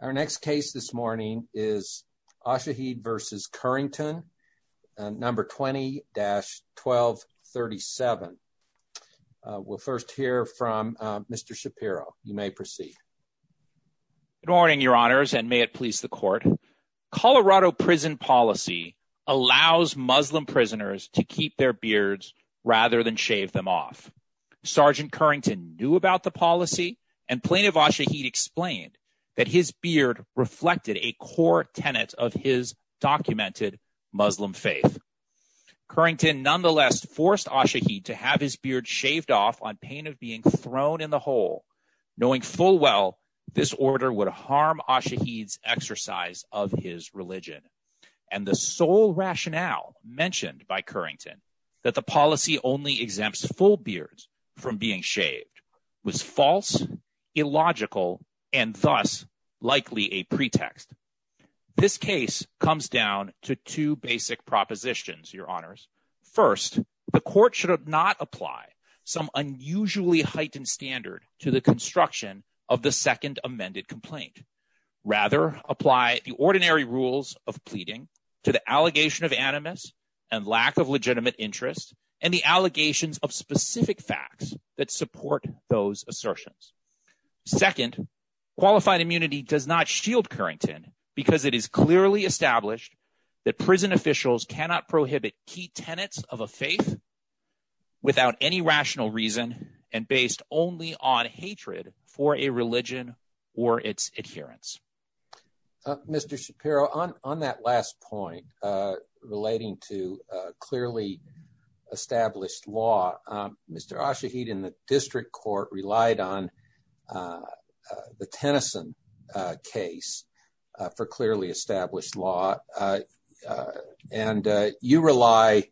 Our next case this morning is Ashaheed v. Currington, number 20-1237. We'll first hear from Mr. Shapiro. You may proceed. Good morning, your honors, and may it please the court. Colorado prison policy allows Muslim prisoners to keep their beards rather than shave them off. Sergeant Currington knew about the that his beard reflected a core tenet of his documented Muslim faith. Currington nonetheless forced Ashaheed to have his beard shaved off on pain of being thrown in the hole, knowing full well this order would harm Ashaheed's exercise of his religion. And the sole rationale mentioned by Currington, that the policy only exempts full beards from being shaved, was false, illogical, and thus likely a pretext. This case comes down to two basic propositions, your honors. First, the court should not apply some unusually heightened standard to the construction of the second amended complaint. Rather, apply the ordinary rules of pleading to the allegation of animus and lack of legitimate interest and the allegations of specific facts that support those assertions. Second, qualified immunity does not shield Currington because it is clearly established that prison officials cannot prohibit key tenets of a faith without any rational reason and based only on hatred for a religion or its adherents. Mr. Shapiro, on that last point relating to clearly established law, Mr. Ashaheed and the district court relied on the Tennyson case for clearly established law and you rely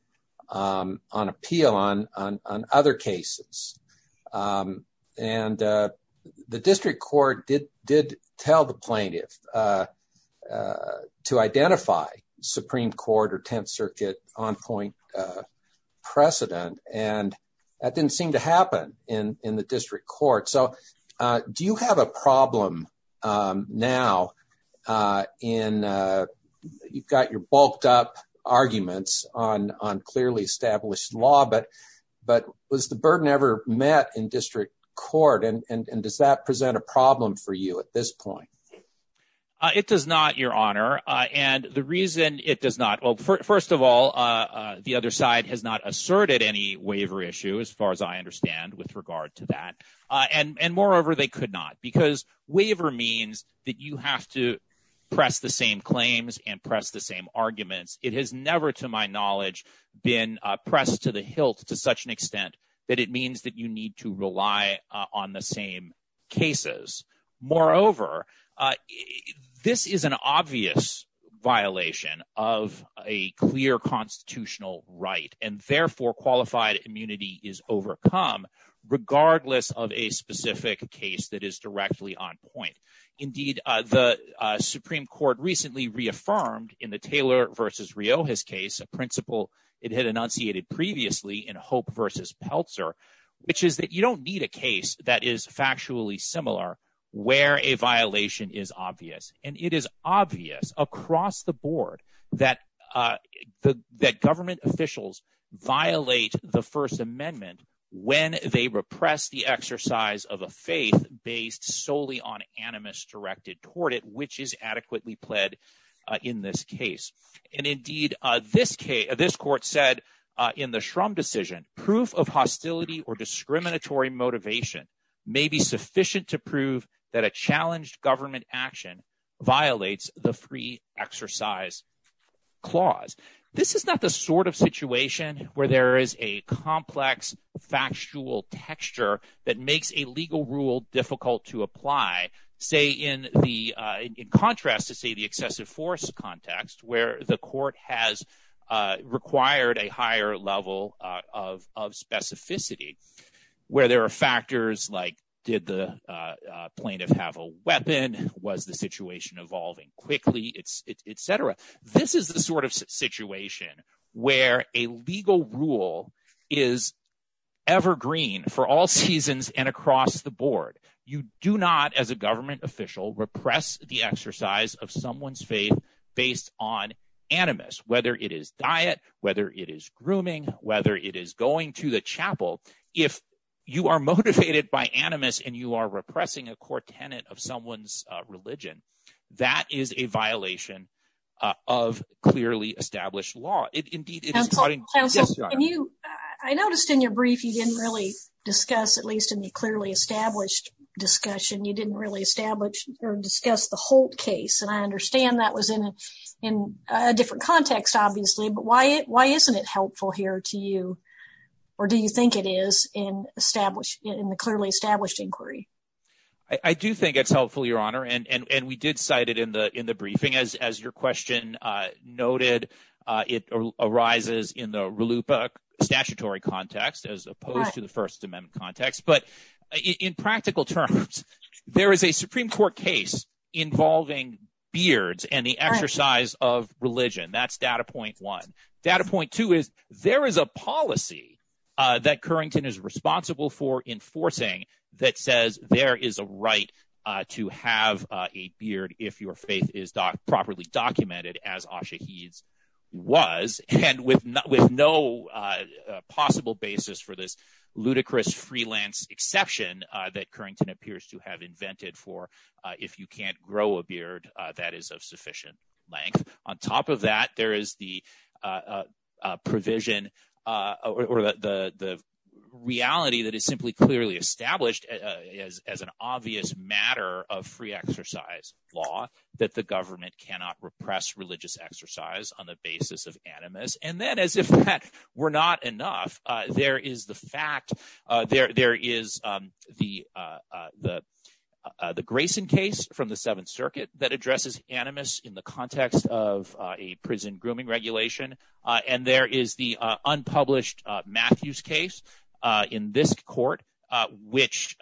on appeal on other cases. And the district court did tell the plaintiff to identify supreme court or 10th circuit on point precedent and that didn't seem to happen in the district court. So do you have a problem now in you've got your bulked up arguments on clearly established law, but was the burden met in district court and does that present a problem for you at this point? It does not, your honor. And the reason it does not, well, first of all, the other side has not asserted any waiver issue as far as I understand with regard to that. And moreover, they could not because waiver means that you have to press the same claims and press the same arguments. It has never, to my knowledge, been pressed to the hilt to such an extent that it means that you need to rely on the same cases. Moreover, this is an obvious violation of a clear constitutional right and therefore qualified immunity is overcome regardless of a specific case that is directly on point. Indeed, the supreme court recently reaffirmed in the Taylor versus Rioja's case, a principle it had enunciated previously in Hope versus Peltzer, which is that you don't need a case that is factually similar where a violation is obvious. And it is obvious across the board that government officials violate the first amendment when they repress the exercise of a faith based solely on animus directed toward it, which is adequately pled in this case. And indeed, this court said in the Shrum decision, proof of hostility or discriminatory motivation may be sufficient to prove that a challenged government action violates the free exercise clause. This is not the sort of situation where there is a complex factual texture that makes a rule difficult to apply, say, in the in contrast to, say, the excessive force context where the court has required a higher level of specificity, where there are factors like did the plaintiff have a weapon? Was the situation evolving quickly? It's et cetera. This is the sort of situation where a legal rule is evergreen for all seasons and across the board. You do not as a government official repress the exercise of someone's faith based on animus, whether it is diet, whether it is grooming, whether it is going to the chapel. If you are motivated by animus and you are repressing a core tenant of someone's religion, that is a violation of clearly established law. Indeed, I noticed in your brief, you didn't really discuss, at least in the clearly established discussion, you didn't really establish or discuss the Holt case. And I understand that was in a different context, obviously. But why isn't it helpful here to you or do you think it is in established in the clearly established inquiry? I do think it's helpful, Your Honor. And we did cite it in the briefing. As your question noted, it arises in the RLUIPA statutory context as opposed to the First Amendment context. But in practical terms, there is a Supreme Court case involving beards and the exercise of religion. That's data point one. Data point two is there is a policy that Currington is responsible for enforcing that says there is a right to have a beard if your faith is properly documented, as Asha Heed's was, and with no possible basis for this ludicrous freelance exception that Currington appears to have invented for if you can't grow a beard that is of sufficient length. On top of that, there is the provision or the reality that is simply clearly established as an obvious matter of free exercise law that the government cannot repress religious exercise on the basis of animus. And then as if that were not enough, there is the fact, there is the Grayson case from the Seventh Circuit that addresses animus in the context of a prison grooming regulation. And there is the unpublished Matthews case in this court, which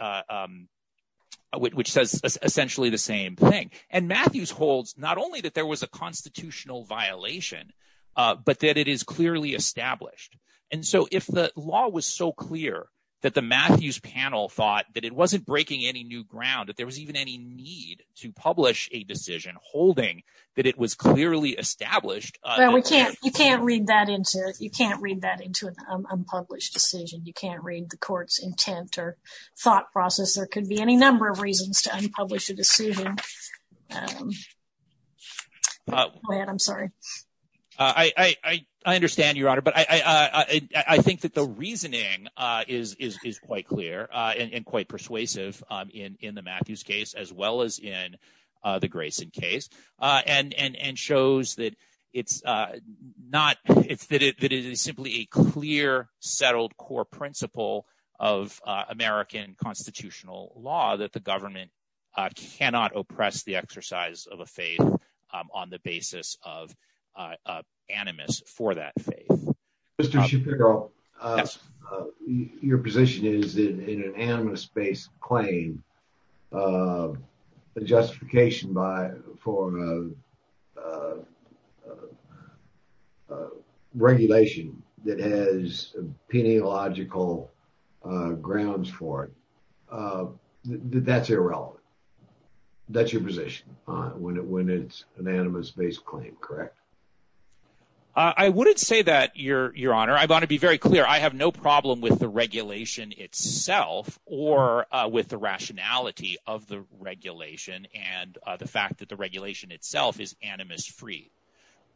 says essentially the same thing. And Matthews holds not only that there was a constitutional violation, but that it is clearly established. And so if the law was so clear that the Matthews panel thought that it wasn't breaking any new ground, that there was even any need to publish a decision holding that it was clearly established. Well, you can't read that into an unpublished decision. You can't read the court's intent or thought process. There could be any number of I understand, Your Honor. But I think that the reasoning is quite clear and quite persuasive in the Matthews case, as well as in the Grayson case, and shows that it is simply a clear, settled core principle of American constitutional law that the government cannot oppress the animus for that faith. Mr. Shapiro, your position is that in an animus-based claim, the justification for a regulation that has peneological grounds for it, that's irrelevant. That's your position when it's an animus-based claim, correct? I wouldn't say that, Your Honor. I want to be very clear. I have no problem with the regulation itself or with the rationality of the regulation and the fact that the regulation itself is animus free.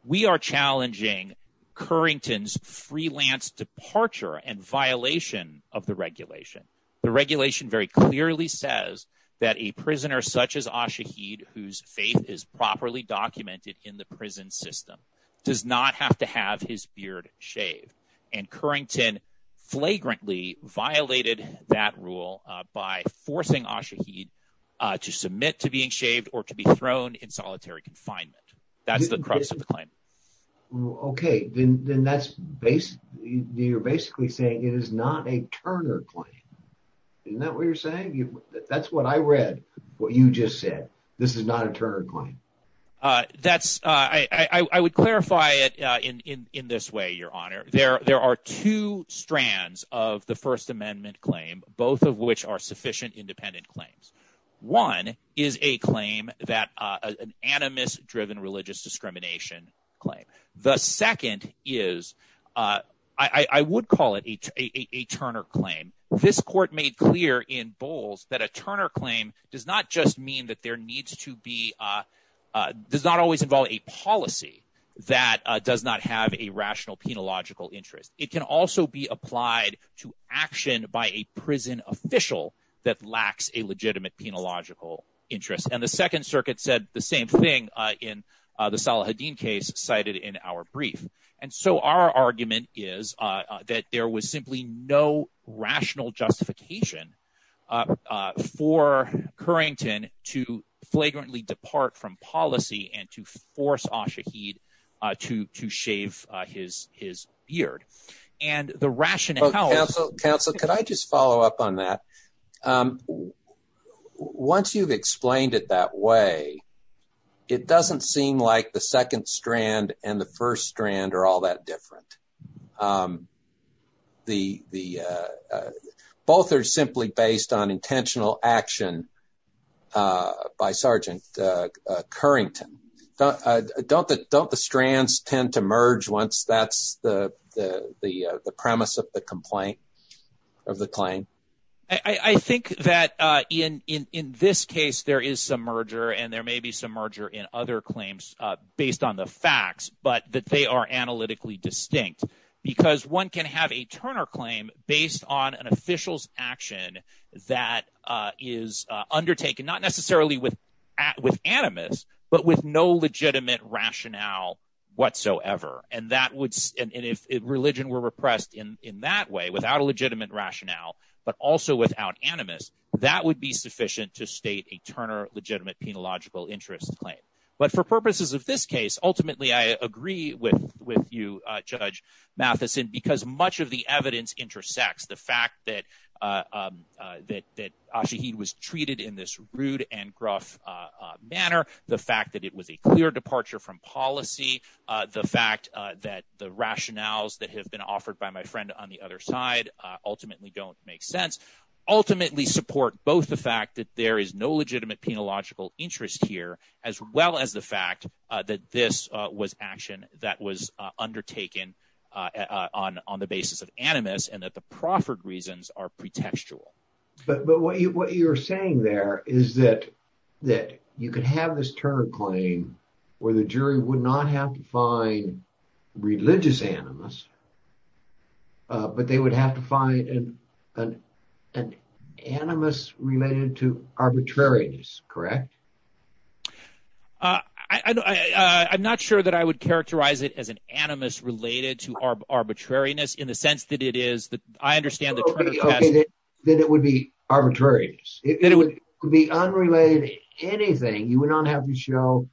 We are challenging Currington's freelance departure and violation of the regulation. The that a prisoner such as Ashahed, whose faith is properly documented in the prison system, does not have to have his beard shaved. And Currington flagrantly violated that rule by forcing Ashahed to submit to being shaved or to be thrown in solitary confinement. That's the crux of the claim. Okay. Then you're basically saying it is not a Turner claim. Isn't that what you're saying? That's what I read, what you just said. This is not a Turner claim. I would clarify it in this way, Your Honor. There are two strands of the First Amendment claim, both of which are sufficient independent claims. One is a claim that an animus-driven discrimination claim. The second is, I would call it a Turner claim. This court made clear in Bowles that a Turner claim does not just mean that there needs to be, does not always involve a policy that does not have a rational, penological interest. It can also be applied to action by a prison official that lacks a legitimate, penological interest. And the Salahuddin case cited in our brief. And so our argument is that there was simply no rational justification for Currington to flagrantly depart from policy and to force Ashahed to shave his beard. And the rationale- Counsel, counsel, could I just follow up on that? Well, once you've explained it that way, it doesn't seem like the second strand and the first strand are all that different. Both are simply based on intentional action by Sergeant Currington. Don't the strands tend to merge once that's the premise of the complaint, of the claim? I think that in this case, there is some merger and there may be some merger in other claims based on the facts, but that they are analytically distinct. Because one can have a Turner claim based on an official's action that is undertaken, not necessarily with animus, but with no legitimate rationale whatsoever. And if religion were repressed in that way, without a legitimate rationale, but also without animus, that would be sufficient to state a Turner legitimate, penological interest claim. But for purposes of this case, ultimately I agree with you, Judge Matheson, because much of the evidence intersects the fact that Ashahed was treated in this rude and gruff manner, the fact it was a clear departure from policy, the fact that the rationales that have been offered by my friend on the other side ultimately don't make sense, ultimately support both the fact that there is no legitimate, penological interest here, as well as the fact that this was action that was undertaken on the basis of animus and that the proffered reasons are pretextual. But what you're saying there is that you could have this Turner claim where the jury would not have to find religious animus, but they would have to find an animus related to arbitrariness, correct? I'm not sure that I would characterize it as an animus related to arbitrariness in the sense that I understand the Turner test. Okay, then it would be arbitrariness. It would be unrelated to anything. You would not have to show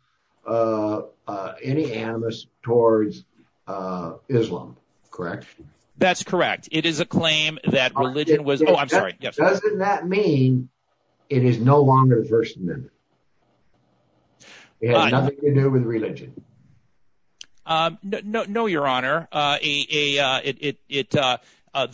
any animus towards Islam, correct? That's correct. It is a claim that religion was... Oh, I'm sorry. Doesn't that mean it is no longer the First Amendment? It has nothing to do with religion? No, your honor. The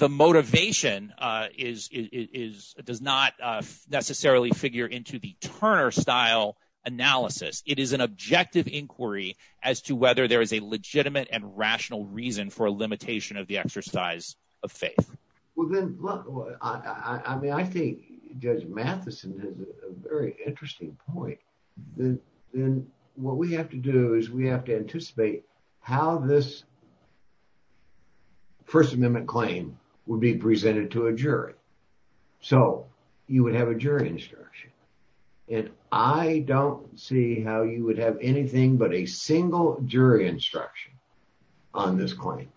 motivation does not necessarily figure into the Turner-style analysis. It is an objective inquiry as to whether there is a legitimate and rational reason for a limitation of the exercise of faith. Well, then look, I mean, I think Judge Matheson has a very interesting point. Then what we have to do is we have to anticipate how this First Amendment claim would be presented to a jury. So you would have a jury instruction, and I don't see how you would have anything but a single jury instruction on this claim.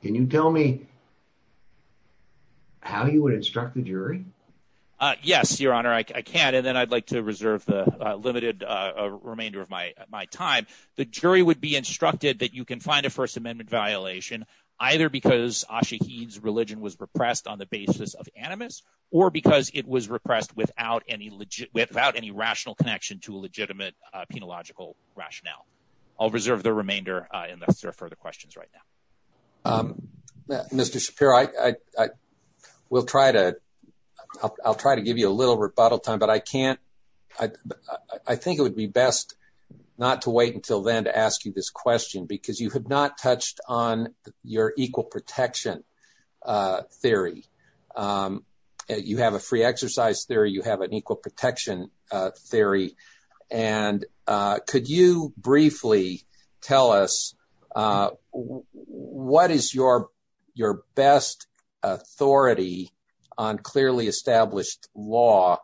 Can you tell me how you would instruct the jury? Yes, your honor. I can, and then I'd like to reserve the limited remainder of my time. The jury would be instructed that you can find a First Amendment violation either because Ashiq Heed's religion was repressed on the basis of animus or because it was repressed without any rational connection to a legitimate penological rationale. I'll reserve the remainder unless there are further questions right now. Mr. Shapiro, I'll try to give you a little rebuttal time, but I think it would be best not to wait until then to ask you this question, because you have not touched on your equal protection theory. You have a free exercise theory. You have an equal protection theory, and could you briefly tell us what is your best authority on clearly established law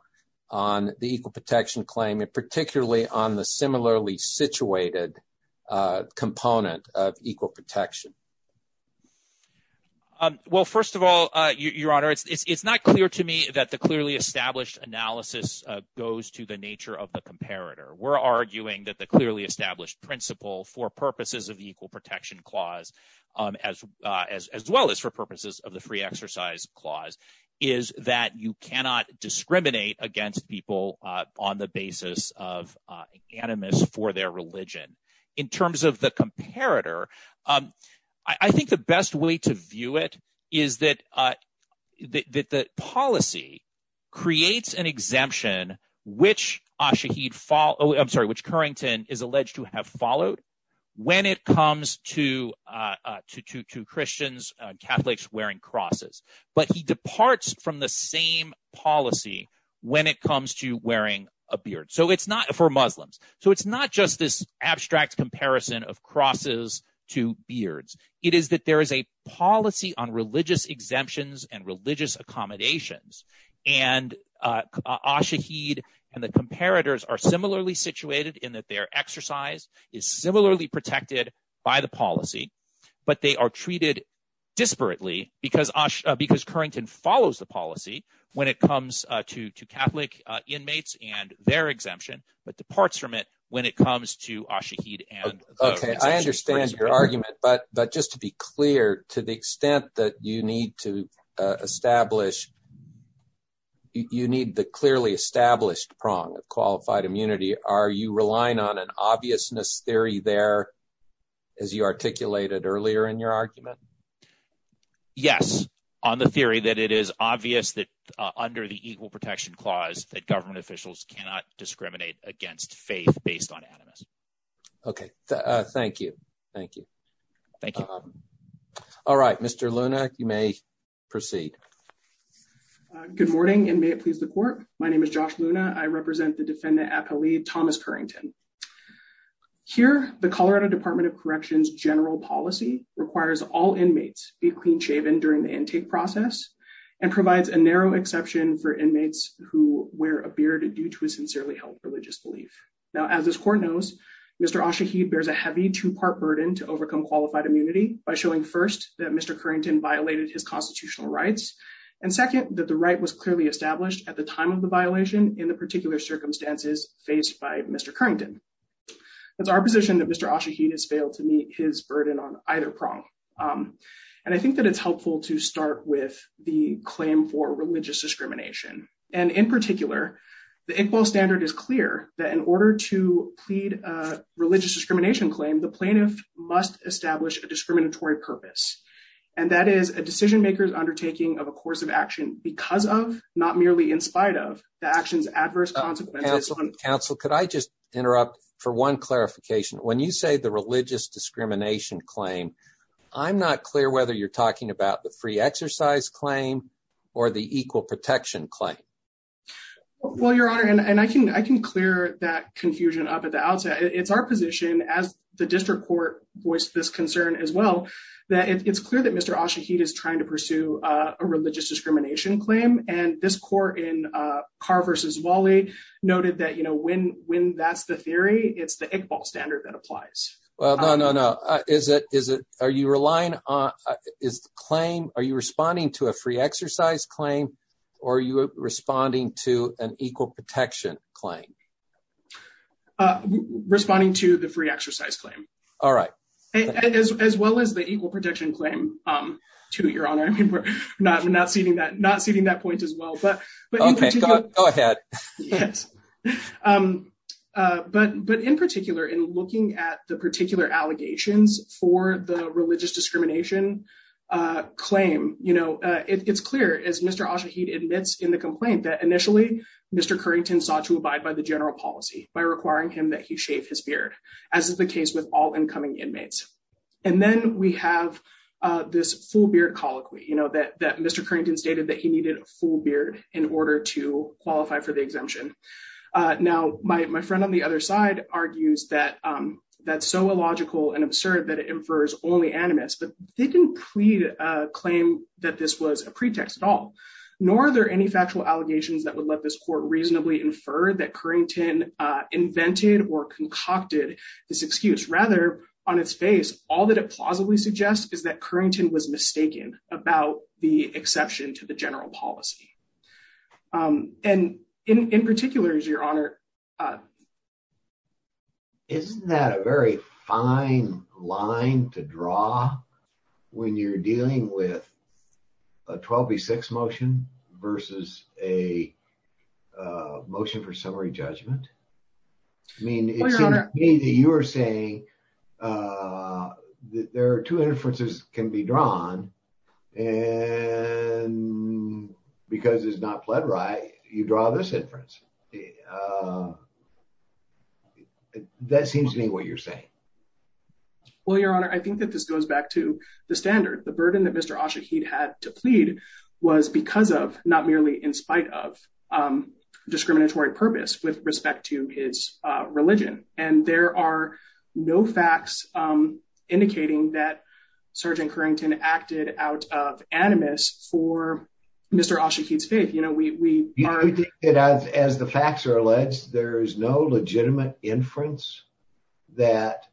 on the equal protection claim, and particularly on the similarly situated component of equal protection? Well, first of all, your honor, it's not clear to me that the clearly established analysis goes to the nature of the comparator. We're arguing that the clearly established principle for purposes of the equal protection clause, as well as for purposes of the free exercise clause, is that you cannot discriminate against people on the basis of animus for their religion. In terms of the comparator, I think the best way to view it is that the policy creates an exemption, which Currington is alleged to have followed when it comes to Christians, Catholics wearing crosses, but he departs from the same policy when it comes to wearing a beard, for Muslims. So it's not just this abstract comparison of crosses to beards. It is that there is a policy on religious exemptions and religious accommodations, and Ashahid and the comparators are similarly situated in that their exercise is similarly protected by the policy, but they are treated disparately because Currington follows the policy when it comes to Catholic inmates and their exemption, but departs from it when it comes to Ashahid and those. Okay, I understand your argument, but just to be clear, to the extent that you need to establish, you need the clearly established prong of qualified immunity, are you relying on an obviousness theory there, as you articulated earlier in your argument? Yes, on the theory that it is obvious that under the equal protection clause that government officials cannot discriminate against faith based on animus. Okay, thank you, thank you. Thank you. All right, Mr. Luna, you may proceed. Good morning, and may it please the court. My name is Josh Luna. I represent the defendant appellee Thomas Currington. Here, the Colorado Department of Corrections general policy requires all inmates be clean-shaven during the intake process and provides a narrow exception for inmates who wear a beard due to a sincerely held religious belief. Now, as this court knows, Mr. Ashahid bears a heavy two-part burden to overcome qualified immunity by showing, first, that Mr. Currington violated his constitutional rights, and second, that the right was clearly established at the time of the violation in the particular circumstances faced by Mr. Currington. It's our position that Mr. Ashahid has failed to meet his burden on either prong, and I think that it's helpful to start with the claim for religious discrimination, and in particular, the Iqbal standard is clear that in order to plead a religious discrimination claim, the plaintiff must establish a discriminatory purpose, and that is a decision maker's undertaking of a course of action because of, not merely in spite of, the action's adverse consequences. Counsel, could I just interrupt for one clarification? When you say the religious discrimination claim, I'm not clear whether you're talking about the free exercise claim or the equal protection claim. Well, Your Honor, and I can clear that confusion up at the outset. It's our position, as the district court voiced this concern as well, that it's clear that Mr. Ashahid is trying to pursue a religious discrimination claim, and this court in Carr v. Walley noted that, you know, when that's the theory, it's the Iqbal standard that applies. Well, no, no, no. Is it, is it, are you relying on, is the claim, are you responding to a free exercise claim, or are you responding to an equal protection claim? Responding to the free exercise claim. All right. As well as the equal protection claim, too, Your Honor. I mean, we're not, not ceding that, not ceding that point as well, but. Okay, go ahead. Yes, but, but in particular, in looking at the particular allegations for the religious discrimination claim, you know, it's clear, as Mr. Ashahid admits in the complaint, that initially Mr. Currington sought to abide by the general policy by requiring him that he shave his beard, as is the case with all incoming inmates. And then we have this full beard colloquy, you know, that Mr. Currington stated that he needed a full beard in order to qualify for the exemption. Now, my friend on the other side argues that that's so illogical and absurd that it infers only animus, but they didn't pre-claim that this was a pretext at all, nor are there any factual allegations that would let this court reasonably infer that Currington invented or concocted this excuse. Rather, on its face, all that it plausibly suggests is that Currington was mistaken about the exception to the general policy. And in particular, your honor. Isn't that a very fine line to draw when you're dealing with a 12 v. 6 motion versus a motion for summary judgment? I mean, it seems to me that you are saying that there are two inferences can be drawn, and because it's not pled right, you draw this inference. That seems to me what you're saying. Well, your honor, I think that this goes back to the standard. The burden that Mr. Ashaheed had to plead was because of, not merely in spite of, discriminatory purpose with respect to his religion. And there are no facts indicating that Sgt. Currington acted out of animus for Mr. Ashaheed's faith. As the facts are alleged, there is no legitimate inference that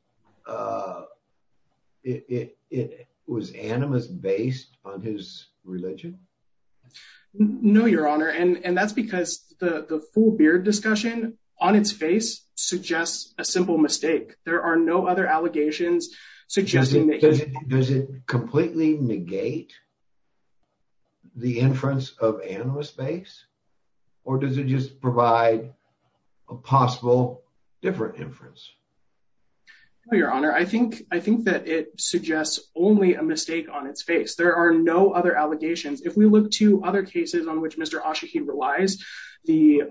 it was animus based on his religion? No, your honor. And that's because the full beard discussion on its face suggests a simple mistake. There are no other allegations suggesting that. Does it completely negate the inference of animus base? Or does it just provide a possible different inference? No, your honor. I think that it to other cases on which Mr. Ashaheed relies, the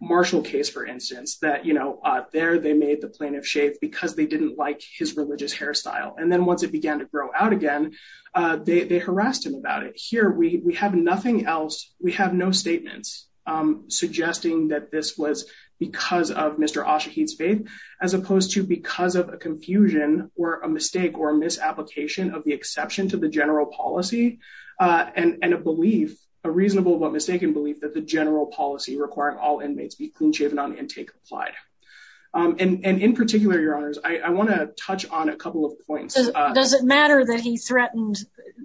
Marshall case, for instance, that, you know, there they made the plaintiff shave because they didn't like his religious hairstyle. And then once it began to grow out again, they harassed him about it. Here, we have nothing else. We have no statements suggesting that this was because of Mr. Ashaheed's faith, as opposed to because of a confusion or a reasonable but mistaken belief that the general policy requiring all inmates be clean-shaven on intake applied. And in particular, your honors, I want to touch on a couple of points. Does it matter that he threatened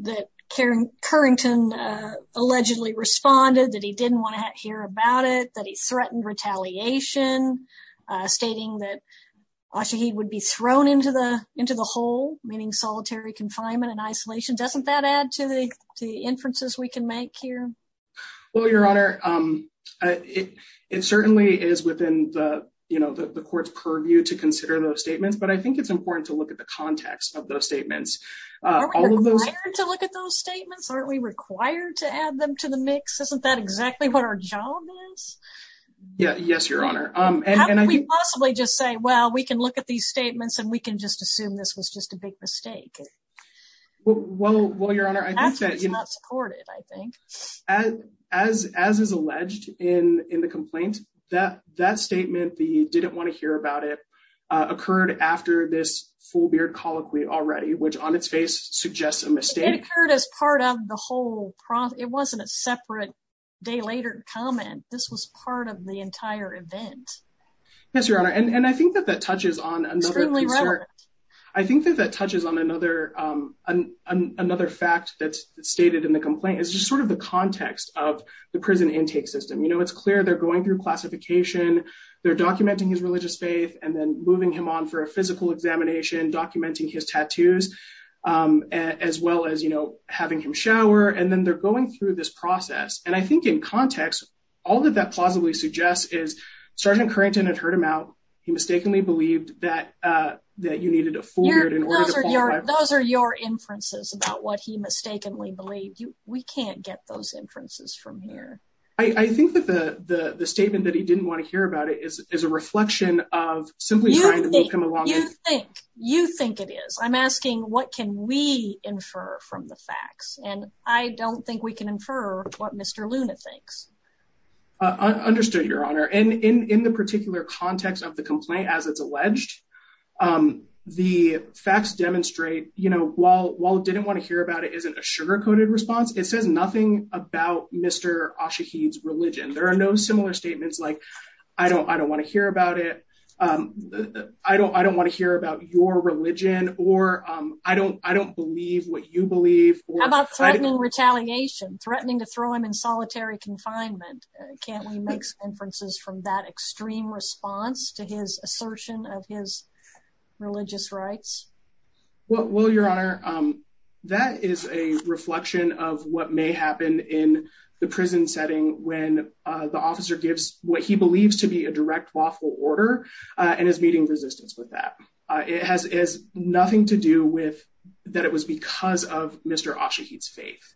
that Currington allegedly responded, that he didn't want to hear about it, that he threatened retaliation, stating that Ashaheed would be thrown into the here? Well, your honor, it certainly is within the, you know, the court's purview to consider those statements. But I think it's important to look at the context of those statements. Are we required to look at those statements? Aren't we required to add them to the mix? Isn't that exactly what our job is? Yeah, yes, your honor. How can we possibly just say, well, we can look at these statements and we can just assume this was just a big mistake? Well, your honor, I think that's not supported, I think. As is alleged in the complaint, that statement, the didn't want to hear about it, occurred after this full beard colloquy already, which on its face suggests a mistake. It occurred as part of the whole, it wasn't a separate day later comment. This was part of the entire event. Yes, your honor. And I think that that another fact that's stated in the complaint is just sort of the context of the prison intake system. You know, it's clear they're going through classification. They're documenting his religious faith and then moving him on for a physical examination, documenting his tattoos, as well as, you know, having him shower. And then they're going through this process. And I think in context, all of that plausibly suggests is Sergeant Currington had heard him out. He inferences about what he mistakenly believed. We can't get those inferences from here. I think that the statement that he didn't want to hear about it is a reflection of simply trying to move him along. You think it is. I'm asking what can we infer from the facts? And I don't think we can infer what Mr. Luna thinks. Understood, your honor. And in the particular context of the complaint, as it's alleged, the facts demonstrate, you know, while it didn't want to hear about it, isn't a sugarcoated response. It says nothing about Mr. Ashaheed's religion. There are no similar statements like, I don't want to hear about it. I don't want to hear about your religion or I don't believe what you believe. How about threatening retaliation, threatening to throw him in solitary confinement? Can't we make inferences from that extreme response to his assertion of his religious rights? Well, your honor, that is a reflection of what may happen in the prison setting when the officer gives what he believes to be a direct lawful order and is meeting resistance with that. It has nothing to do with that it was because of Mr. Ashaheed's faith.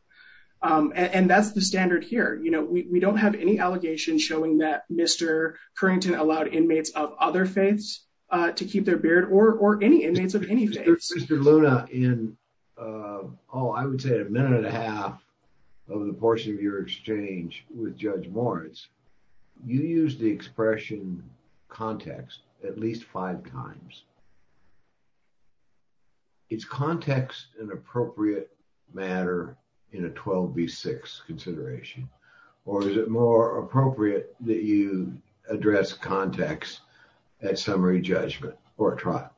And that's the standard here. You know, we don't have any allegations showing that Mr. Currington allowed inmates of other faiths to keep their beard or any inmates of any faith. Mr. Luna, in, oh, I would say a minute and a half of the portion of your exchange with Judge Moritz, you used the expression context at least five times. Is context an appropriate matter in a 12 v six consideration, or is it more appropriate that you address context at summary judgment or trial?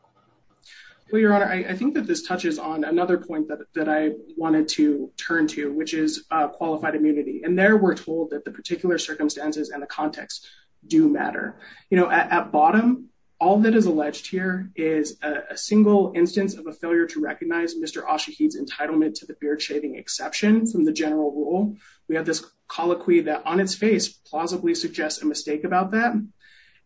Well, your honor, I think that this touches on another point that I wanted to turn to, which is qualified immunity. And there we're told that the particular circumstances and the context do matter. You know, at bottom, all that is alleged here is a single instance of a failure to recognize Mr. Ashaheed's entitlement to the beard shaving exception from the general rule. We have this colloquy that on its face, plausibly suggests a mistake about that.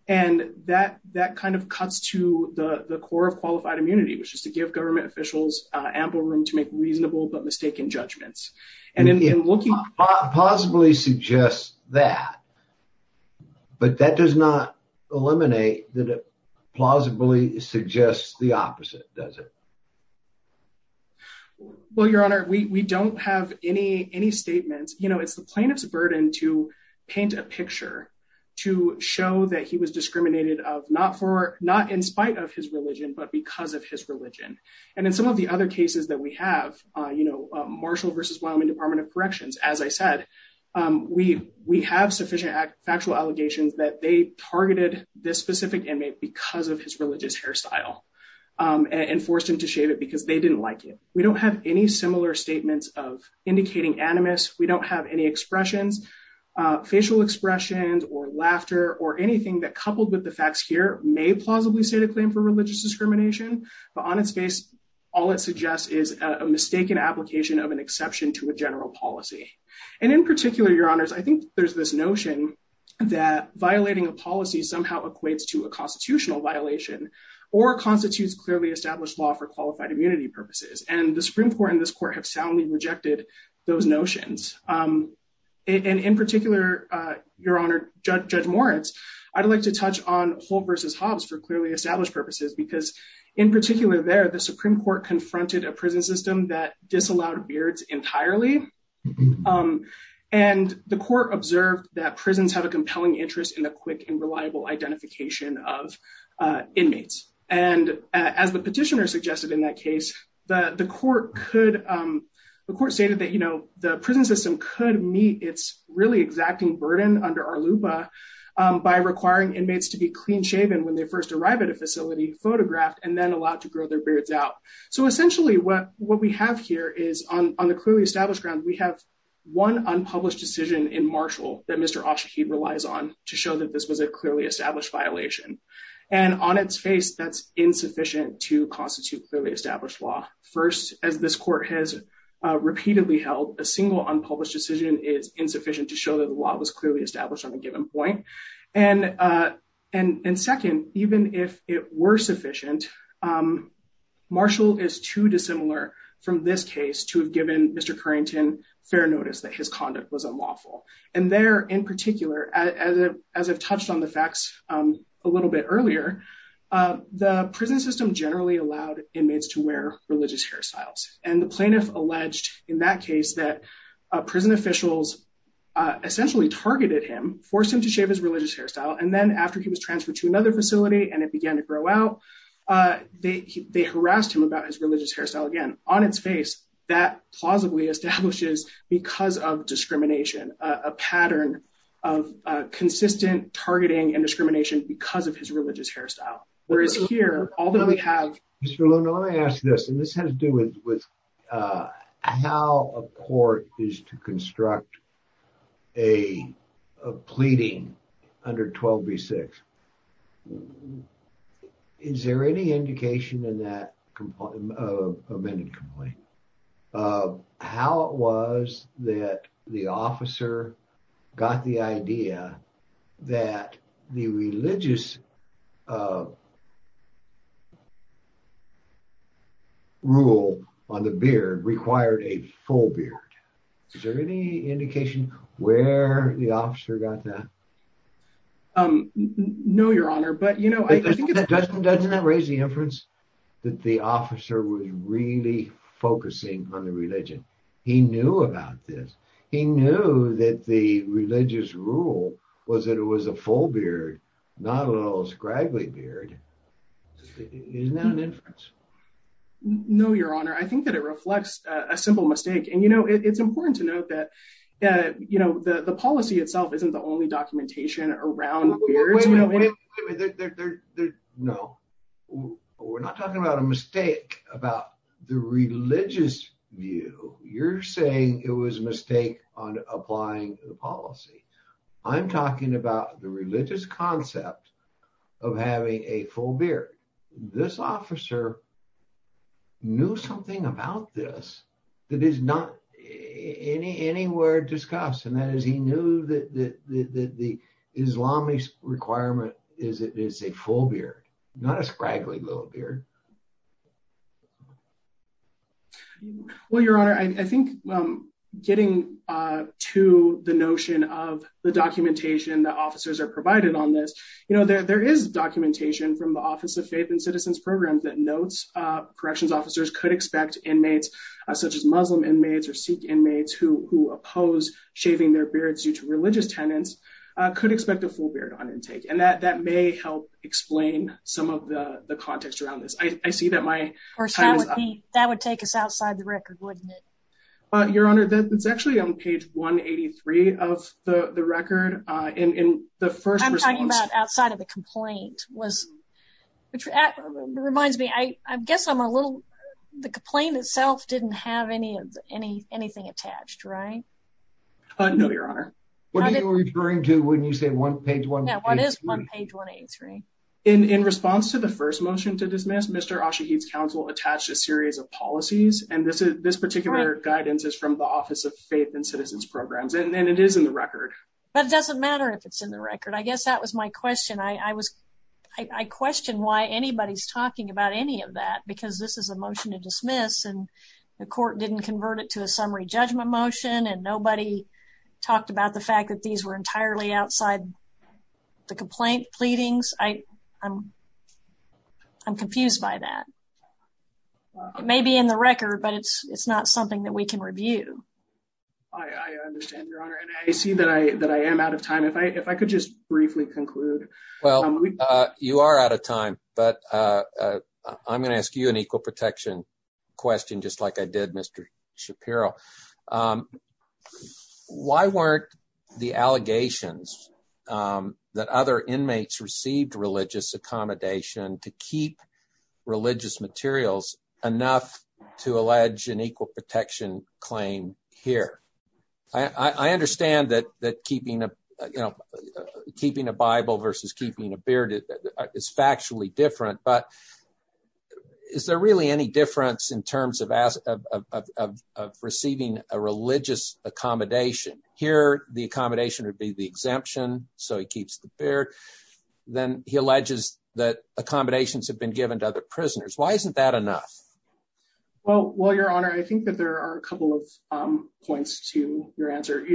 And that that kind of cuts to the core of qualified immunity, which is to give government officials ample room to make reasonable but mistaken judgments. It possibly suggests that, but that does not eliminate that it plausibly suggests the opposite, does it? Well, your honor, we don't have any statements. You know, it's the plaintiff's burden to paint a picture to show that he was discriminated of not in spite of his religion, but because of his religion. And in some of the other cases that we have, you know, Marshall versus Wyoming Department of Corrections, as I said, we have sufficient factual allegations that they targeted this specific inmate because of his religious hairstyle and forced him to shave it because they didn't like it. We don't have any similar statements of indicating animus. We don't have any expressions, facial expressions or laughter or anything that coupled with the facts here may plausibly state a claim for religious discrimination. But on its face, all it suggests is a mistaken application of an exception to a general policy. And in particular, your honors, I think there's this notion that violating a policy somehow equates to a constitutional violation or constitutes clearly established law for qualified immunity purposes. And the Supreme Court and this court have soundly rejected those notions. And in particular, your honor, Judge Moritz, I'd like to touch on Holt versus in particular there, the Supreme Court confronted a prison system that disallowed beards entirely. And the court observed that prisons have a compelling interest in the quick and reliable identification of inmates. And as the petitioner suggested in that case, the court could, the court stated that, you know, the prison system could meet its really exacting burden under our LUPA by requiring inmates to be clean shaven when they first arrive at a facility, photographed and then allowed to grow their beards out. So essentially what we have here is on the clearly established ground, we have one unpublished decision in Marshall that Mr. Oshahed relies on to show that this was a clearly established violation. And on its face, that's insufficient to constitute clearly established law. First, as this court has repeatedly held, a single unpublished decision is insufficient to show that the law was clearly established on a basis. And if it's not clear sufficient, Marshall is too dissimilar from this case to have given Mr. Currington fair notice that his conduct was unlawful. And there in particular, as I've touched on the facts a little bit earlier, the prison system generally allowed inmates to wear religious hairstyles. And the plaintiff alleged in that case that prison officials essentially targeted him, forced him to shave his religious hairstyle. And then after he was transferred to prison and it began to grow out, they harassed him about his religious hairstyle again. On its face, that plausibly establishes, because of discrimination, a pattern of consistent targeting and discrimination because of his religious hairstyle. Whereas here, although we have... Mr. Looney, let me ask this, and this has to do with how a court is to construct a law. Is there any indication in that amended complaint of how it was that the officer got the idea that the religious rule on the beard required a full beard? Is there any indication where the officer got that? No, your honor, but you know... Doesn't that raise the inference that the officer was really focusing on the religion? He knew about this. He knew that the religious rule was that it was a full beard, not a little scraggly beard. Isn't that an inference? No, your honor. I think that it reflects a simple mistake. And you know, it's important to note that the policy itself isn't the only documentation around beards. No, we're not talking about a mistake about the religious view. You're saying it was a mistake on applying the policy. I'm talking about the religious concept of having a full beard. This officer knew something about this that is not anywhere discussed. And that is, he knew that the Islamist requirement is a full beard, not a scraggly little beard. Well, your honor, I think getting to the notion of the documentation that officers are provided on this, you know, there is documentation from the Office of Faith and Citizens Programs that notes corrections officers could expect inmates, such as Muslim inmates or Sikh inmates, who oppose shaving their beards due to religious tenets, could expect a full beard on intake. And that may help explain some of the context around this. I see that my time is up. That would take us outside the record, wouldn't it? Your honor, that's actually on page 183 of the record. I'm talking about outside of the complaint, which reminds me, I guess I'm a little, the complaint itself didn't have anything attached, right? No, your honor. What are you referring to when you say one page 183? Yeah, it is one page 183. In response to the first motion to dismiss, Mr. Ashaheed's counsel attached a series of policies, and this particular guidance is from the Office of Faith and Citizens Programs, and it is in the record. But it doesn't matter if it's in the record. I guess that was my question. I questioned why anybody's talking about any of that, because this is a motion to dismiss, and the court didn't convert it to a summary judgment motion, and nobody talked about the fact that these were entirely outside the complaint pleadings. I'm confused by that. It may be in the record, but it's not something that we can review. I understand, your honor, and I see that I am out of time. If I could just briefly conclude. Well, you are out of time, but I'm going to ask you an equal protection question, just like I did Mr. Shapiro. Why weren't the allegations that other inmates received accommodation to keep religious materials enough to allege an equal protection claim here? I understand that keeping a Bible versus keeping a beard is factually different, but is there really any difference in terms of receiving a religious accommodation? Here, the accommodation would be the exemption, so he keeps the beard. Then he alleges that accommodations have been given to other prisoners. Why isn't that enough? Well, your honor, I think that there are a couple of points to your answer.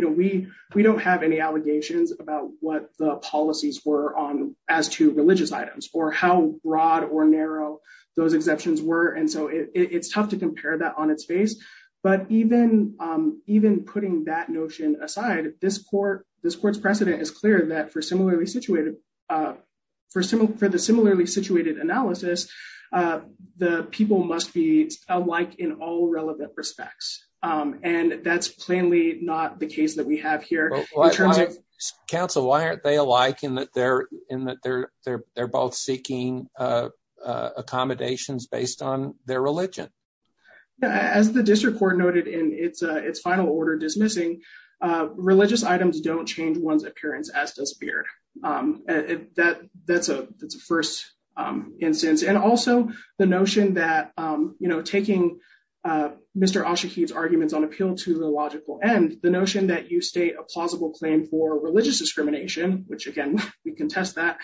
We don't have any allegations about what the policies were on as to religious items, or how broad or narrow those exemptions were, and so it's tough to compare that on its face. But even putting that notion aside, this court's precedent is clear that for the similarly situated analysis, the people must be alike in all relevant respects. That's plainly not the case that we have here. Counsel, why aren't they alike in that they're both seeking accommodations based on their religious items? Religious items don't change one's appearance as does beard. That's a first instance. Also, the notion that taking Mr. Oshakede's arguments on appeal to the logical end, the notion that you state a plausible claim for religious discrimination, which again, we contest that,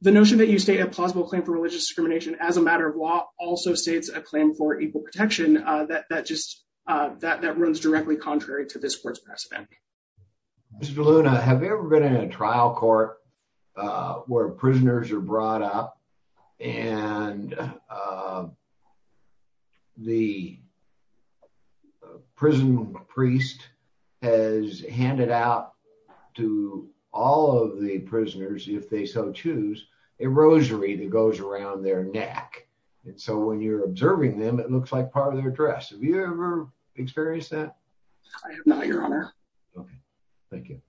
the notion that you state a plausible claim for religious discrimination as a matter of law also states a claim for equal protection that runs directly contrary to this court's precedent. Mr. Luna, have you ever been in a trial court where prisoners are brought up and the prison priest has handed out to all of the prisoners, if they so choose, a rosary that goes around their neck. And so when you're observing them, it looks like part of their dress. Have you ever experienced that? I have not, your honor. Okay, thank you.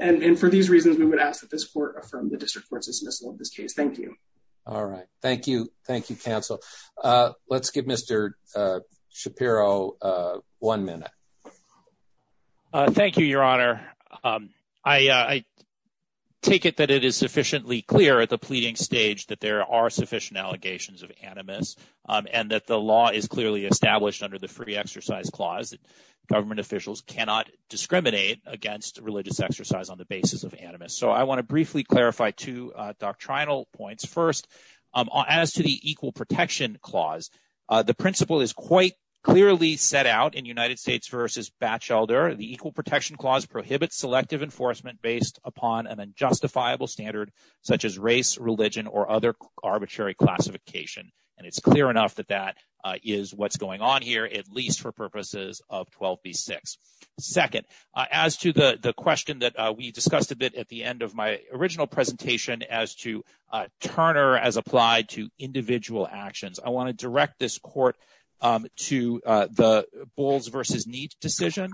And for these reasons, we would ask that this court affirm the district court's dismissal of this case. Thank you. All right. Thank you. Thank you, counsel. Let's give Mr. Shapiro one minute. Thank you, your honor. I take it that it is sufficiently clear at the pleading stage that there are sufficient allegations of animus and that the law is clearly established under the free exercise clause that government officials cannot discriminate against religious exercise on the basis of animus. So I want to briefly clarify two doctrinal points. First, as to the equal protection clause, the principle is quite clearly set out in United States v. Batchelder. The equal protection clause prohibits selective enforcement based upon an unjustifiable standard such as race, religion, or other arbitrary classification. And it's clear enough that that is what's going on here, at least for purposes of 12b-6. Second, as to the question that we discussed a bit at the end of my original presentation as to Turner as applied to individual actions, I want to direct this court to the Bowles v. Neate decision,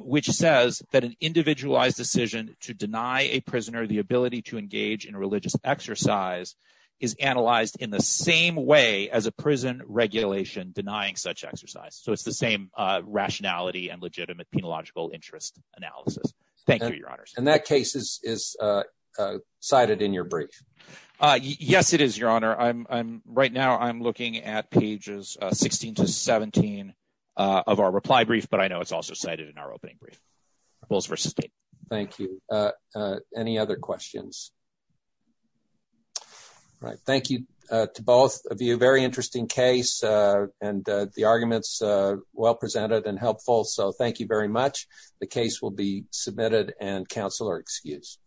which says that individualized decision to deny a prisoner the ability to engage in religious exercise is analyzed in the same way as a prison regulation denying such exercise. So it's the same rationality and legitimate penological interest analysis. Thank you, your honor. And that case is cited in your brief. Yes, it is, your honor. Right now, I'm looking at pages 16 to 17 of our reply brief, but I know it's also cited in our opening brief. Bowles v. Neate. Thank you. Any other questions? All right. Thank you to both of you. Very interesting case and the arguments well presented and helpful. So thank you very much. The case will be submitted and counsel are excused.